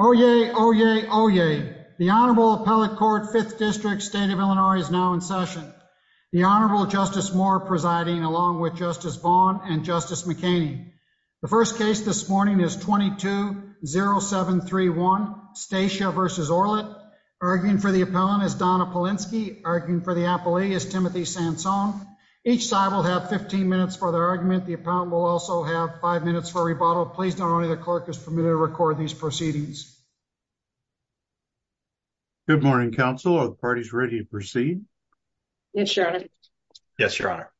Oyez, oyez, oyez. The Honorable Appellate Court, 5th District, State of Illinois, is now in session. The Honorable Justice Moore presiding, along with Justice Vaughn and Justice McCain. The first case this morning is 220731, Stacia v. Orlet. Arguing for the appellant is Donna Polinsky. Arguing for the appellee is Timothy Sansone. Each side will have 15 minutes for their argument. The appellant will also have 5 minutes for rebuttal. Please know only the clerk is permitted to record these proceedings. Good morning, counsel. Are the parties ready to proceed? Yes, Your Honor. Yes, Your Honor.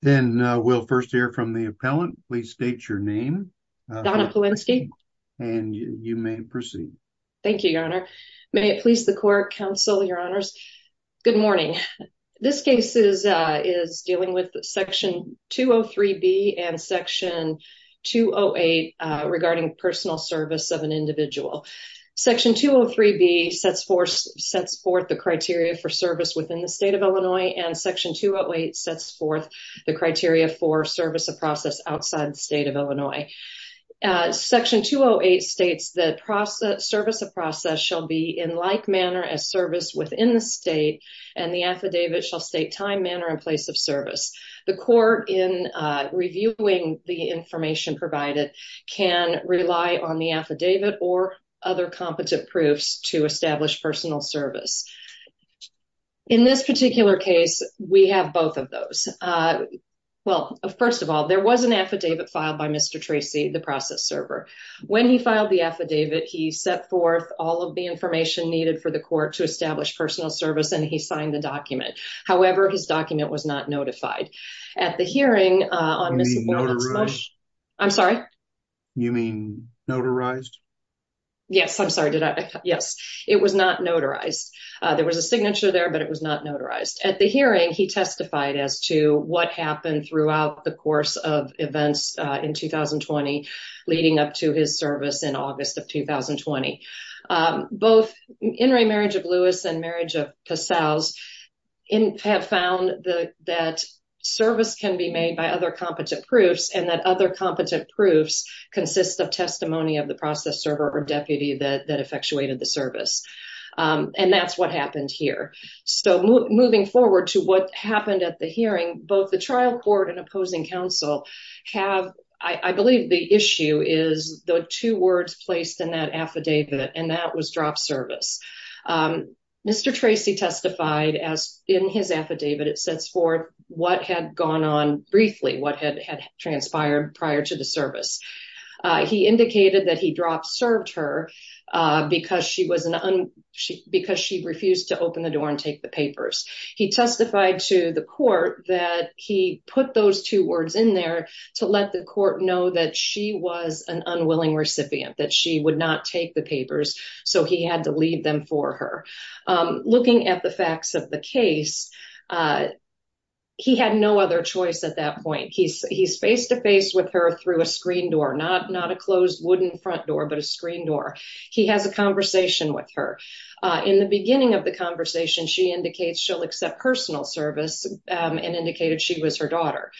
Then we'll first hear from the appellant. Please state your name. Donna Polinsky. And you may proceed. Thank you, Your Honor. May it please the court, counsel, Your Honors. Good morning. This case is dealing with Section 203B and Section 208 regarding personal service of an individual. Section 203B sets forth the criteria for service within the State of Illinois, and Section 208 sets forth the criteria for service of process outside the State of Illinois. Section 208 states that service of process shall be in like manner as service within the State, and the affidavit shall state time, manner, and place of service. The court, in reviewing the information provided, can rely on the affidavit or other competent proofs to establish personal service. In this particular case, we have both of those. Well, first of all, there was an affidavit filed by Mr. Tracy, the process server. When he filed the affidavit, he set forth all of the information needed for the court to establish personal service, and he signed the document. However, his document was not notified. You mean notarized? I'm sorry? You mean notarized? Yes, I'm sorry. Yes, it was not notarized. There was a signature there, but it was not notarized. At the hearing, he testified as to what happened throughout the course of events in 2020, leading up to his service in August of 2020. Both In re Marriage of Lewis and Marriage of Passau have found that service can be made by other competent proofs, and that other competent proofs consist of testimony of the process server or deputy that effectuated the service. And that's what happened here. So moving forward to what happened at the hearing, both the trial court and opposing counsel have, I believe the issue is the two words placed in that affidavit, and that was drop service. Mr. Tracy testified as in his affidavit. It sets forth what had gone on briefly, what had transpired prior to the service. He indicated that he dropped served her because she refused to open the door and take the papers. He testified to the court that he put those two words in there to let the court know that she was an unwilling recipient, that she would not take the papers, so he had to leave them for her. Looking at the facts of the case, he had no other choice at that point. He's face to face with her through a screen door, not not a closed wooden front door, but a screen door. He has a conversation with her in the beginning of the conversation. She indicates she'll accept personal service and indicated she was her daughter.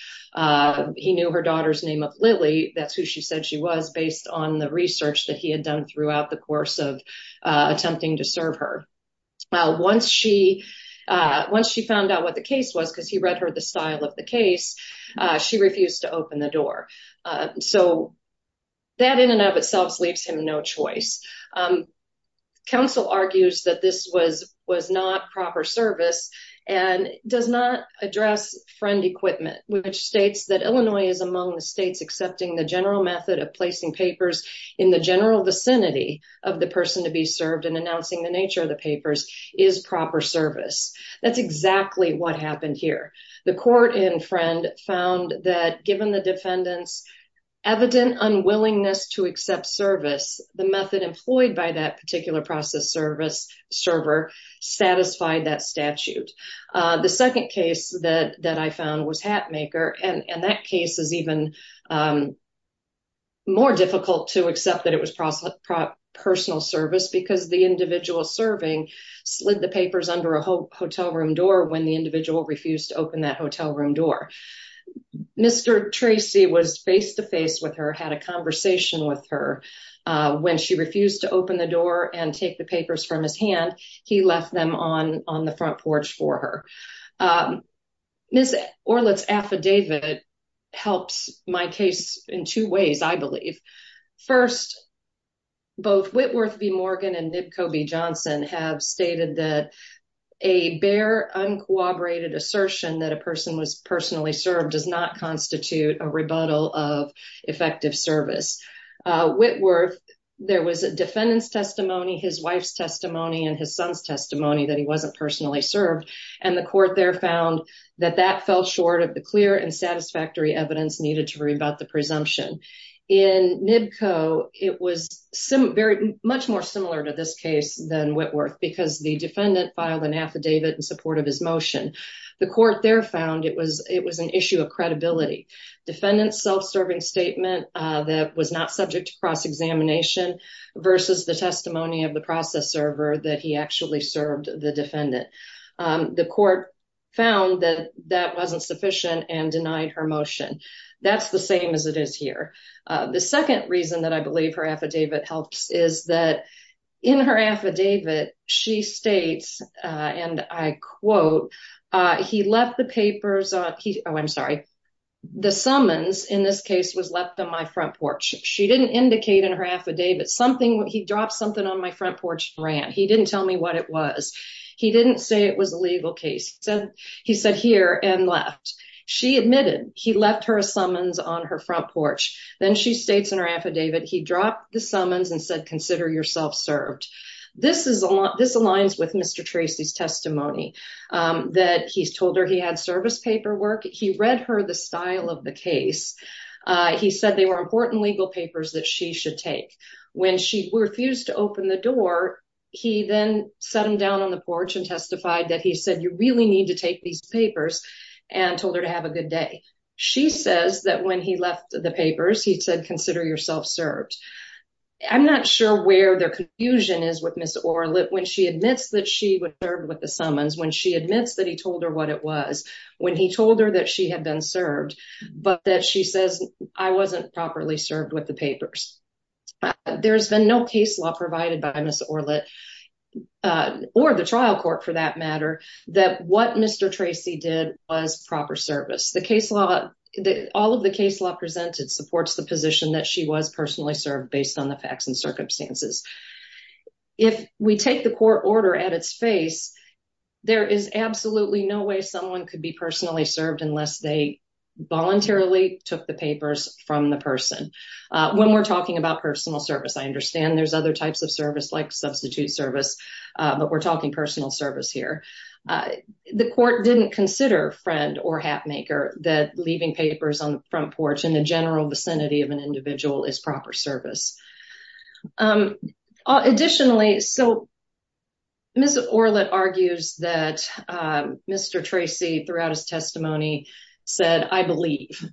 He knew her daughter's name of Lily. That's who she said she was based on the research that he had done throughout the course of attempting to serve her. Once she once she found out what the case was, because he read her the style of the case, she refused to open the door. So that in and of itself leaves him no choice. Counsel argues that this was was not proper service and does not address friend equipment, which states that Illinois is among the states accepting the general method of placing papers in the general vicinity of the person to be served and announcing the nature of the papers is proper service. That's exactly what happened here. The court in friend found that given the defendants evident unwillingness to accept service, the method employed by that particular process service server satisfied that statute. The second case that that I found was hat maker. And that case is even more difficult to accept that it was process personal service because the individual serving slid the papers under a hotel room door when the individual refused to open that hotel room door. Mr. Tracy was face to face with her, had a conversation with her when she refused to open the door and take the papers from his hand. He left them on on the front porch for her. Ms. Orlet's affidavit helps my case in two ways, I believe. First, both Whitworth v. Morgan and Nipkow v. Johnson have stated that a bare, uncooperated assertion that a person was personally served does not constitute a rebuttal of effective service. Whitworth, there was a defendant's testimony, his wife's testimony and his son's testimony that he wasn't personally served. And the court there found that that fell short of the clear and satisfactory evidence needed to rebut the presumption. In Nipkow, it was some very much more similar to this case than Whitworth because the defendant filed an affidavit in support of his motion. The court there found it was it was an issue of credibility. Defendant's self-serving statement that was not subject to cross-examination versus the testimony of the process server that he actually served the defendant. The court found that that wasn't sufficient and denied her motion. That's the same as it is here. The second reason that I believe her affidavit helps is that in her affidavit, she states, and I quote, he left the papers. Oh, I'm sorry. The summons in this case was left on my front porch. She didn't indicate in her affidavit something. He dropped something on my front porch and ran. He didn't tell me what it was. He didn't say it was a legal case. So he said here and left. She admitted he left her a summons on her front porch. Then she states in her affidavit, he dropped the summons and said, consider yourself served. This is a lot. This aligns with Mr. Tracy's testimony that he's told her he had service paperwork. He read her the style of the case. He said they were important legal papers that she should take. When she refused to open the door, he then sat him down on the porch and testified that he said, you really need to take these papers and told her to have a good day. She says that when he left the papers, he said, consider yourself served. I'm not sure where their confusion is with Ms. Orlett when she admits that she would serve with the summons, when she admits that he told her what it was, when he told her that she had been served, but that she says, I wasn't properly served with the papers. There's been no case law provided by Ms. Orlett or the trial court for that matter, that what Mr. Tracy did was proper service. The case law, all of the case law presented supports the position that she was personally served based on the facts and circumstances. If we take the court order at its face, there is absolutely no way someone could be personally served unless they voluntarily took the papers from the person. When we're talking about personal service, I understand there's other types of service like substitute service, but we're talking personal service here. The court didn't consider Friend or Hatmaker that leaving papers on the front porch in the general vicinity of an individual is proper service. Additionally, so Ms. Orlett argues that Mr. Tracy, throughout his testimony, said, I believe.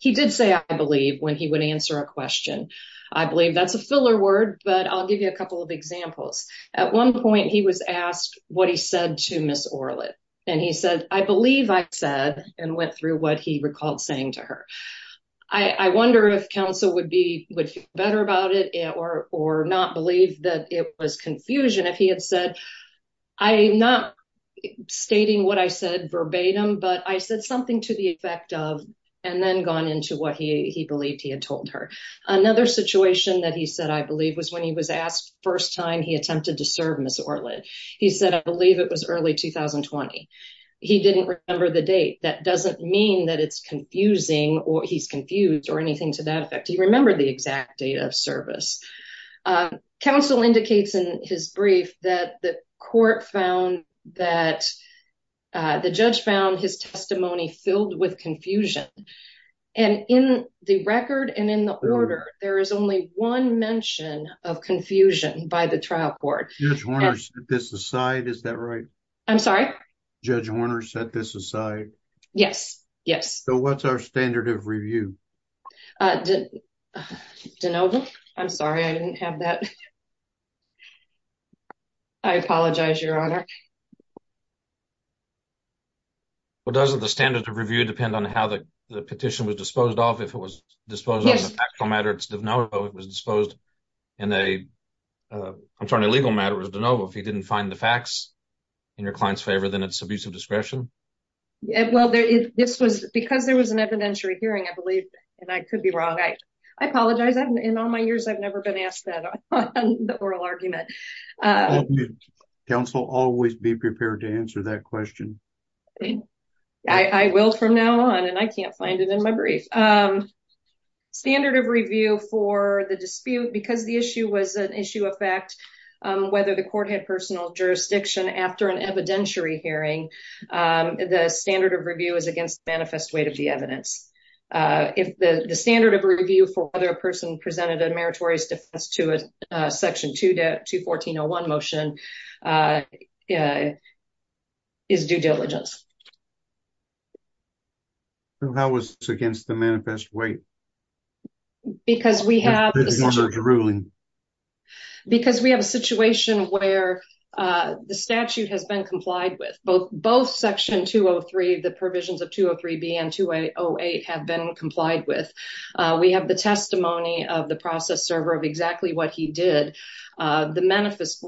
He did say, I believe, when he would answer a question. I believe that's a filler word, but I'll give you a couple of examples. At one point, he was asked what he said to Ms. Orlett, and he said, I believe I said, and went through what he recalled saying to her. I wonder if counsel would feel better about it or not believe that it was confusion if he had said, I'm not stating what I said verbatim, but I said something to the effect of, and then gone into what he believed he had told her. Another situation that he said, I believe, was when he was asked the first time he attempted to serve Ms. Orlett. He said, I believe it was early 2020. He didn't remember the date. That doesn't mean that it's confusing or he's confused or anything to that effect. He remembered the exact date of service. Counsel indicates in his brief that the court found that the judge found his testimony filled with confusion. And in the record and in the order, there is only one mention of confusion by the trial court. Judge Horner set this aside, is that right? I'm sorry? Judge Horner set this aside? Yes. Yes. So what's our standard of review? I'm sorry, I didn't have that. I apologize, Your Honor. Well, doesn't the standard of review depend on how the petition was disposed of? If it was disposed of in a factual matter, it's de novo. If it was disposed in a, I'm sorry, in a legal matter, it's de novo. If he didn't find the facts in your client's favor, then it's abuse of discretion. Well, this was because there was an evidentiary hearing, I believe, and I could be wrong. I apologize. In all my years, I've never been asked that on the oral argument. Counsel, always be prepared to answer that question. I will from now on, and I can't find it in my brief. Standard of review for the dispute, because the issue was an issue of fact, whether the court had personal jurisdiction after an evidentiary hearing, the standard of review is against the manifest weight of the evidence. If the standard of review for whether a person presented a meritorious defense to a Section 2 to 214-01 motion is due diligence. How was this against the manifest weight? Because we have a situation where the statute has been complied with. Both Section 203, the provisions of 203B and 208 have been complied with. We have the testimony of the process server of exactly what he did. The manifest,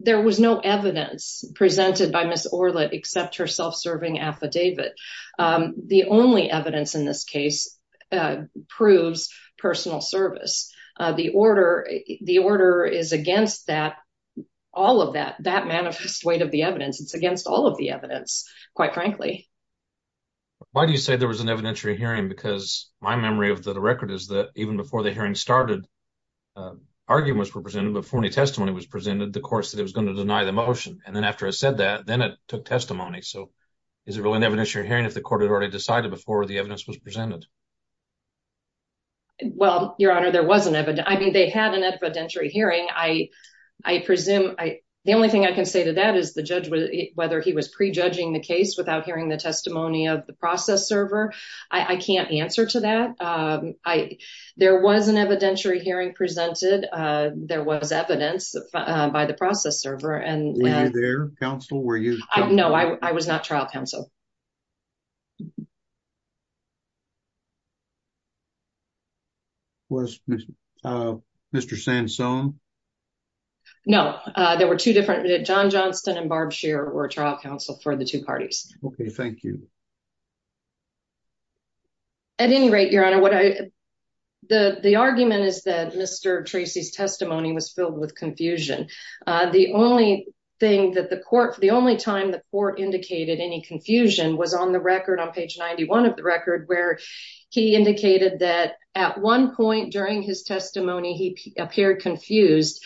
there was no evidence presented by Ms. Orlett except her self-serving affidavit. The only evidence in this case proves personal service. The order is against that, all of that, that manifest weight of the evidence. It's against all of the evidence, quite frankly. Why do you say there was an evidentiary hearing? Because my memory of the record is that even before the hearing started, arguments were presented. Before any testimony was presented, the court said it was going to deny the motion. And then after I said that, then it took testimony. So is it really an evidentiary hearing if the court had already decided before the evidence was presented? Well, Your Honor, there was an evidentiary hearing. The only thing I can say to that is whether the judge was prejudging the case without hearing the testimony of the process server. I can't answer to that. There was an evidentiary hearing presented. There was evidence by the process server. Were you there, counsel? No, I was not trial counsel. Was Mr. Sansone? No, there were two different. John Johnston and Barb Shearer were trial counsel for the two parties. Okay, thank you. At any rate, Your Honor, the argument is that Mr. Tracy's testimony was filled with confusion. The only time the court indicated any confusion was on the record, on page 91 of the record, where he indicated that at one point during his testimony, he appeared confused.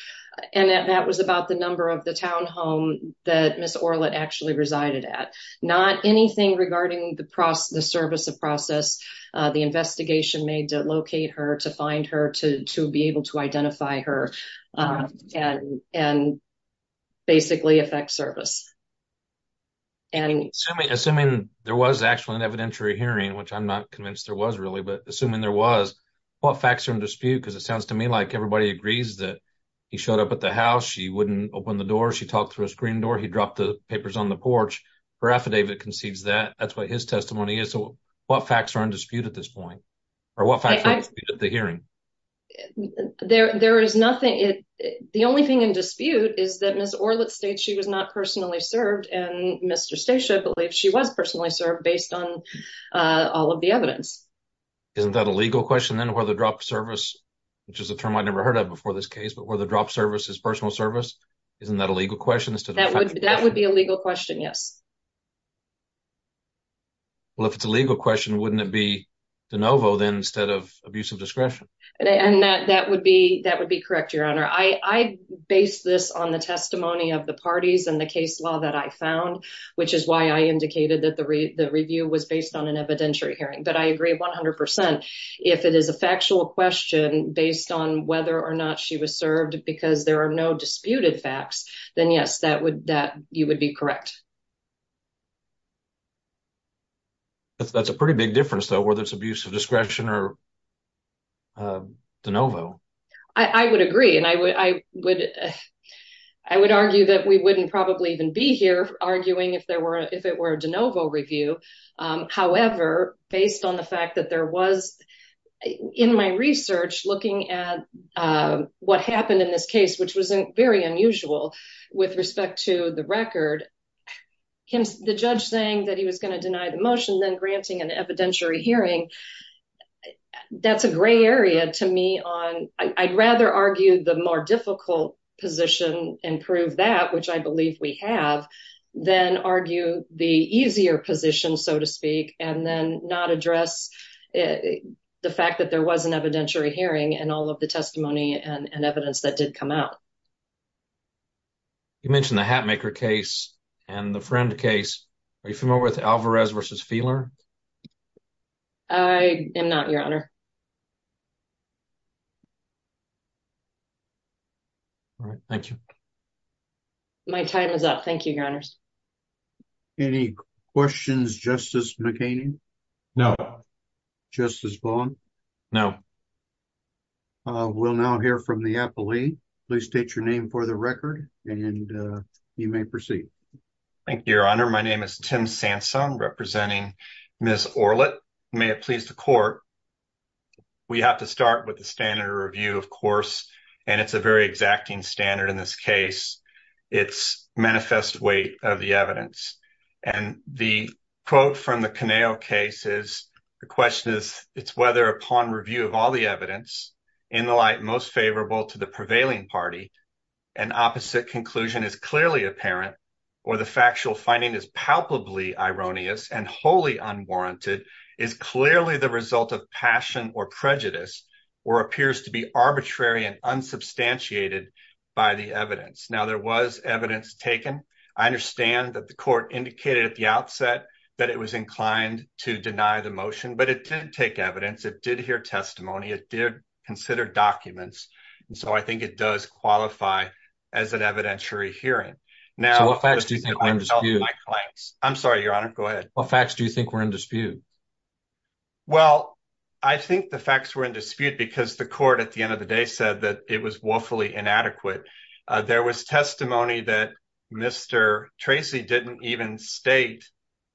And that was about the number of the townhome that Ms. Orlett actually resided at. Not anything regarding the service of process, the investigation made to locate her, to find her, to be able to identify her, and basically affect service. Assuming there was actually an evidentiary hearing, which I'm not convinced there was really, but assuming there was, what facts are in dispute? Because it sounds to me like everybody agrees that he showed up at the house, she wouldn't open the door, she talked through a screen door, he dropped the papers on the porch. Her affidavit concedes that. That's what his testimony is. So what facts are in dispute at this point? Or what facts are in dispute at the hearing? There is nothing. The only thing in dispute is that Ms. Orlett states she was not personally served, and Mr. Stacia believes she was personally served, based on all of the evidence. Isn't that a legal question, then, where the drop of service, which is a term I never heard of before this case, but where the drop of service is personal service? Isn't that a legal question? That would be a legal question, yes. Well, if it's a legal question, wouldn't it be de novo, then, instead of abuse of discretion? And that would be correct, Your Honor. I base this on the testimony of the parties and the case law that I found, which is why I indicated that the review was based on an evidentiary hearing. But I agree 100%. If it is a factual question based on whether or not she was served because there are no disputed facts, then, yes, you would be correct. That's a pretty big difference, though, whether it's abuse of discretion or de novo. I would agree, and I would argue that we wouldn't probably even be here arguing if it were a de novo review. However, based on the fact that there was, in my research, looking at what happened in this case, which was very unusual with respect to the record, the judge saying that he was going to deny the motion, then granting an evidentiary hearing, that's a gray area to me. I'd rather argue the more difficult position and prove that, which I believe we have, than argue the easier position, so to speak, and then not address the fact that there was an evidentiary hearing and all of the testimony and evidence that did come out. You mentioned the Hatmaker case and the Friend case. Are you familiar with Alvarez v. Feeler? I am not, Your Honor. All right. Thank you. My time is up. Thank you, Your Honors. Any questions, Justice McCain? No. Justice Bowen? No. We'll now hear from the appellee. Please state your name for the record, and you may proceed. Thank you, Your Honor. My name is Tim Sansone, representing Ms. Orlett. May it please the court. We have to start with the standard review, of course, and it's a very exacting standard in this case. It's manifest weight of the evidence. And the quote from the Caneo case is, the question is, it's whether upon review of all the evidence, in the light most favorable to the prevailing party, an opposite conclusion is clearly apparent, or the factual finding is palpably ironious and wholly unwarranted, is clearly the result of passion or prejudice, or appears to be arbitrary and unsubstantiated by the evidence. Now, there was evidence taken. I understand that the court indicated at the outset that it was inclined to deny the motion, but it didn't take evidence. It did hear testimony. It did consider documents. And so I think it does qualify as an evidentiary hearing. So what facts do you think were in dispute? I'm sorry, Your Honor. Go ahead. What facts do you think were in dispute? Well, I think the facts were in dispute because the court, at the end of the day, said that it was woefully inadequate. There was testimony that Mr. Tracy didn't even state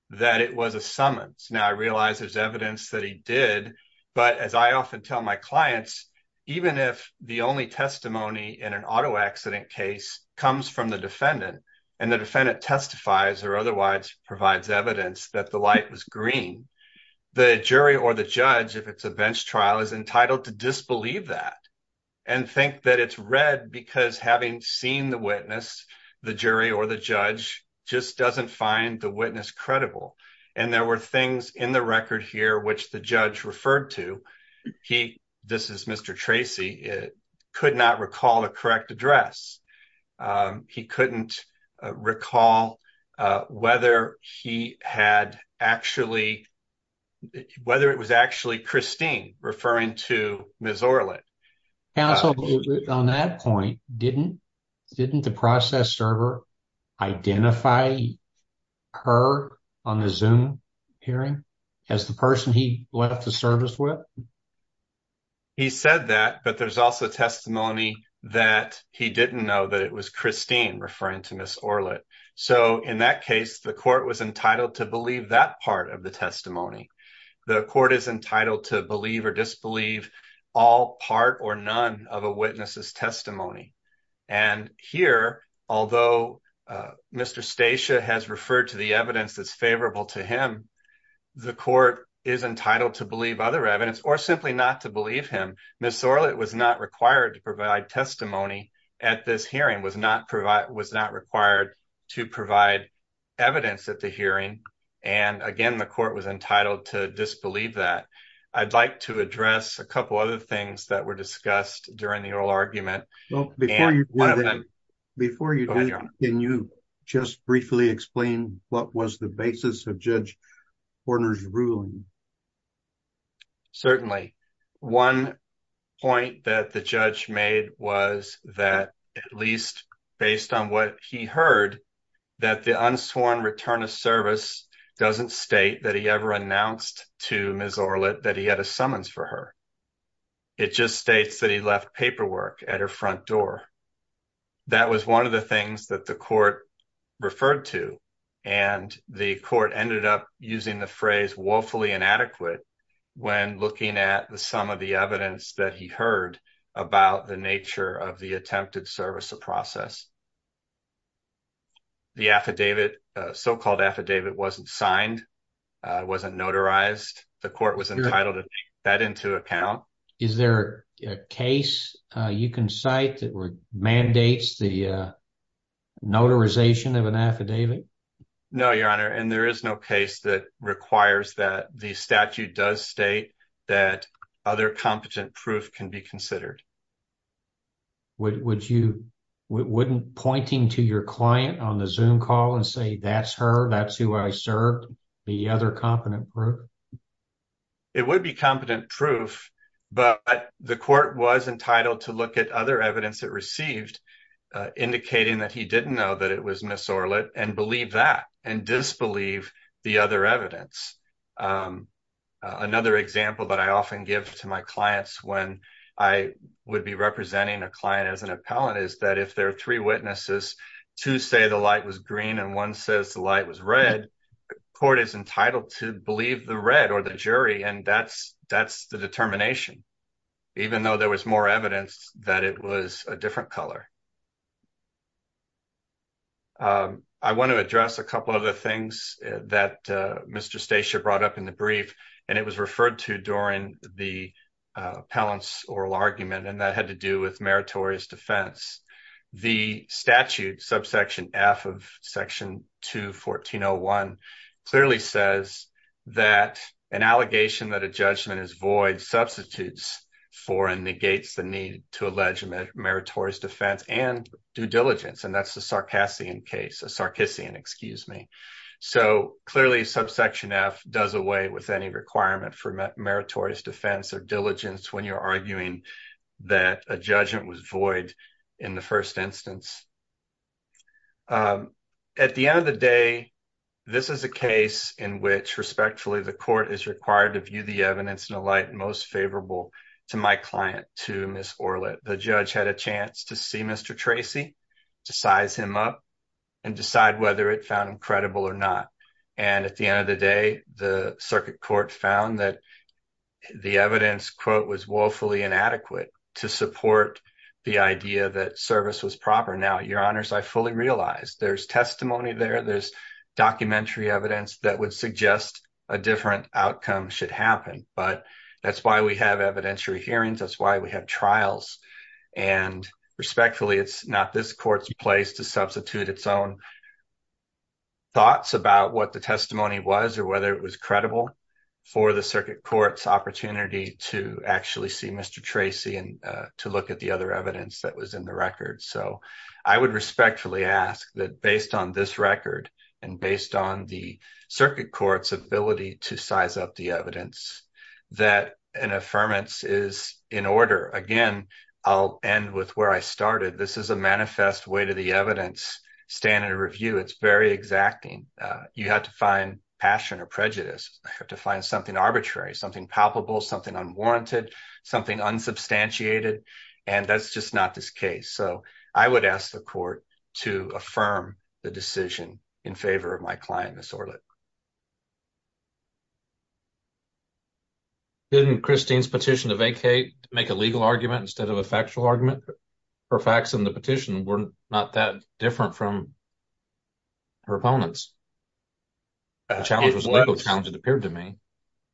that it was a summons. Now, I realize there's evidence that he did, but as I often tell my clients, even if the only testimony in an auto accident case comes from the defendant and the defendant testifies or otherwise provides evidence that the light was green, the jury or the judge, if it's a bench trial, is entitled to disbelieve that and think that it's red because having seen the witness, the jury or the judge, just doesn't find the witness credible. And there were things in the record here which the judge referred to. He, this is Mr. Tracy, could not recall a correct address. He couldn't recall whether he had actually, whether it was actually Christine referring to Ms. Orlett. Counsel, on that point, didn't the process server identify her on the Zoom hearing as the person he left the service with? He said that, but there's also testimony that he didn't know that it was Christine referring to Ms. Orlett. So in that case, the court was entitled to believe that part of the testimony. The court is entitled to believe or disbelieve all part or none of a witness's testimony. And here, although Mr. Stacia has referred to the evidence that's favorable to him, the court is entitled to believe other evidence or simply not to believe him. Ms. Orlett was not required to provide testimony at this hearing, was not required to provide evidence at the hearing. And again, the court was entitled to disbelieve that. I'd like to address a couple other things that were discussed during the oral argument. Before you do that, can you just briefly explain what was the basis of Judge Horner's ruling? Certainly. One point that the judge made was that at least based on what he heard, that the unsworn return of service doesn't state that he ever announced to Ms. Orlett that he had a summons for her. It just states that he left paperwork at her front door. That was one of the things that the court referred to. And the court ended up using the phrase woefully inadequate when looking at some of the evidence that he heard about the nature of the attempted service of process. The affidavit, so-called affidavit, wasn't signed, wasn't notarized. The court was entitled to take that into account. Is there a case you can cite that mandates the notarization of an affidavit? No, Your Honor, and there is no case that requires that. The statute does state that other competent proof can be considered. Wouldn't pointing to your client on the Zoom call and say, that's her, that's who I served, be other competent proof? It would be competent proof, but the court was entitled to look at other evidence it received, indicating that he didn't know that it was Ms. Orlett, and believe that, and disbelieve the other evidence. Another example that I often give to my clients when I would be representing a client as an appellant is that if there are three witnesses, two say the light was green and one says the light was red, the court is entitled to believe the red or the jury. And that's the determination, even though there was more evidence that it was a different color. I want to address a couple of the things that Mr. Stacia brought up in the brief, and it was referred to during the appellant's oral argument, and that had to do with meritorious defense. The statute, subsection F of section 2-1401, clearly says that an allegation that a judgment is void substitutes for and negates the need to allege meritorious defense and due diligence, and that's the Sarcassian case, a Sarcissian, excuse me. So clearly, subsection F does away with any requirement for meritorious defense or diligence when you're arguing that a judgment was void in the first instance. At the end of the day, this is a case in which, respectfully, the court is required to view the evidence in a light most favorable to my client, to Ms. Orlett. The judge had a chance to see Mr. Tracy, to size him up and decide whether it found him credible or not. And at the end of the day, the circuit court found that the evidence, quote, was woefully inadequate to support the idea that service was proper. Now, your honors, I fully realize there's testimony there. There's documentary evidence that would suggest a different outcome should happen, but that's why we have evidentiary hearings. That's why we have trials, and respectfully, it's not this court's place to substitute its own thoughts about what the testimony was or whether it was credible for the circuit court's opportunity to actually see Mr. Tracy and to look at the other evidence that was in the record. So I would respectfully ask that, based on this record and based on the circuit court's ability to size up the evidence, that an affirmance is in order. Again, I'll end with where I started. This is a manifest way to the evidence standard review. It's very exacting. You have to find passion or prejudice. I have to find something arbitrary, something palpable, something unwarranted, something unsubstantiated, and that's just not this case. So I would ask the court to affirm the decision in favor of my client, Ms. Orlick. Didn't Christine's petition to vacate make a legal argument instead of a factual argument? Her facts in the petition were not that different from her opponent's. The challenge was a legal challenge, it appeared to me.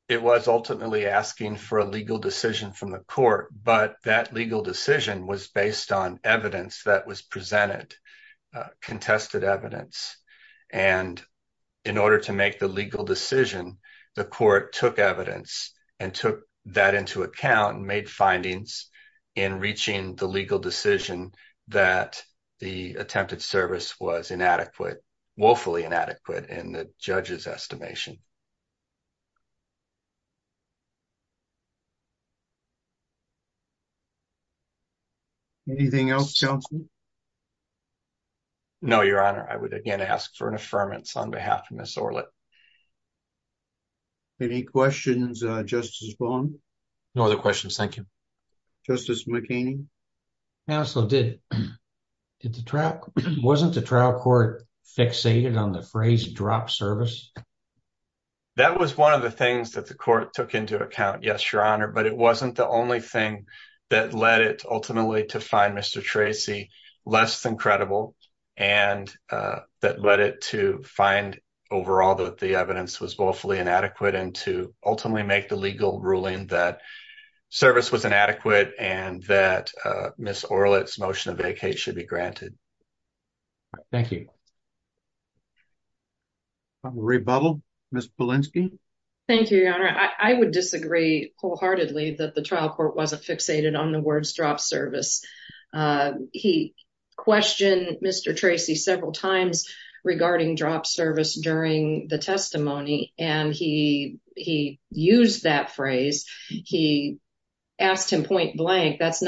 It was ultimately asking for a legal decision from the court, but that legal decision was based on evidence that was presented, contested evidence. And in order to make the legal decision, the court took evidence and took that into account and made findings in reaching the legal decision that the attempted service was inadequate, woefully inadequate, in the judge's estimation. Anything else, Counselor? No, Your Honor. I would again ask for an affirmance on behalf of Ms. Orlick. Any questions, Justice Baum? No other questions, thank you. Justice McCain? Counsel, wasn't the trial court fixated on the phrase drop service? That was one of the things that the court took into account, yes, Your Honor, but it wasn't the only thing that led it ultimately to find Mr. Tracy less than credible and that led it to find overall that the evidence was woefully inadequate and to ultimately make the legal ruling that service was inadequate and that Ms. Orlick's motion to vacate should be granted. Thank you. Rebuttal, Ms. Polinsky? Thank you, Your Honor. I would disagree wholeheartedly that the trial court wasn't fixated on the words drop service. He questioned Mr. Tracy several times regarding drop service during the testimony and he used that phrase. He asked him point blank, that's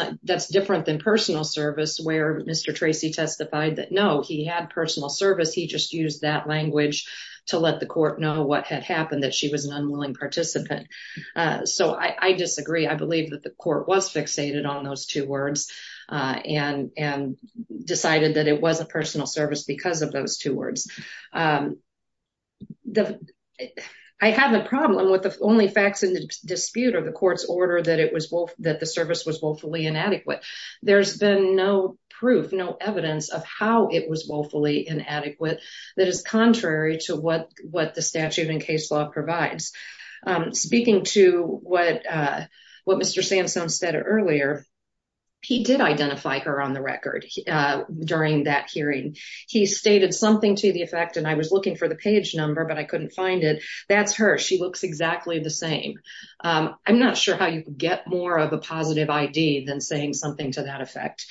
different than personal service where Mr. Tracy testified that no, he had personal service. He just used that language to let the court know what had happened, that she was an unwilling participant. So I disagree. I believe that the court was fixated on those two words and decided that it was a personal service because of those two words. I have a problem with the only facts in the dispute of the court's order that the service was woefully inadequate. There's been no proof, no evidence of how it was woefully inadequate that is contrary to what the statute in case law provides. Speaking to what Mr. Sansone said earlier, he did identify her on the record during that hearing. He stated something to the effect, and I was looking for the page number, but I couldn't find it. That's her. She looks exactly the same. I'm not sure how you get more of a positive ID than saying something to that effect.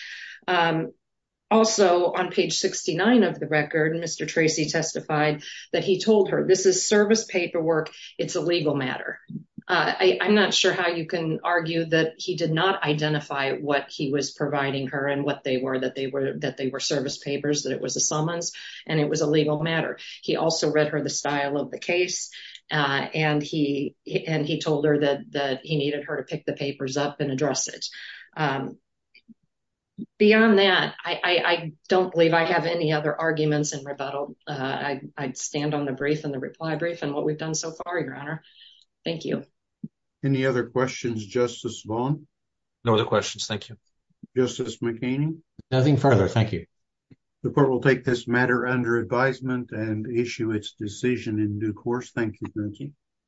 Also, on page 69 of the record, Mr. Tracy testified that he told her, this is service paperwork. It's a legal matter. I'm not sure how you can argue that he did not identify what he was providing her and what they were, that they were service papers, that it was a summons, and it was a legal matter. He also read her the style of the case, and he told her that he needed her to pick the papers up and address it. Beyond that, I don't believe I have any other arguments in rebuttal. I'd stand on the brief and the reply brief and what we've done so far, Your Honor. Thank you. Any other questions, Justice Vaughn? No other questions. Thank you. Justice McCain? Nothing further. Thank you. The court will take this matter under advisement and issue its decision in due course. Thank you, Judge.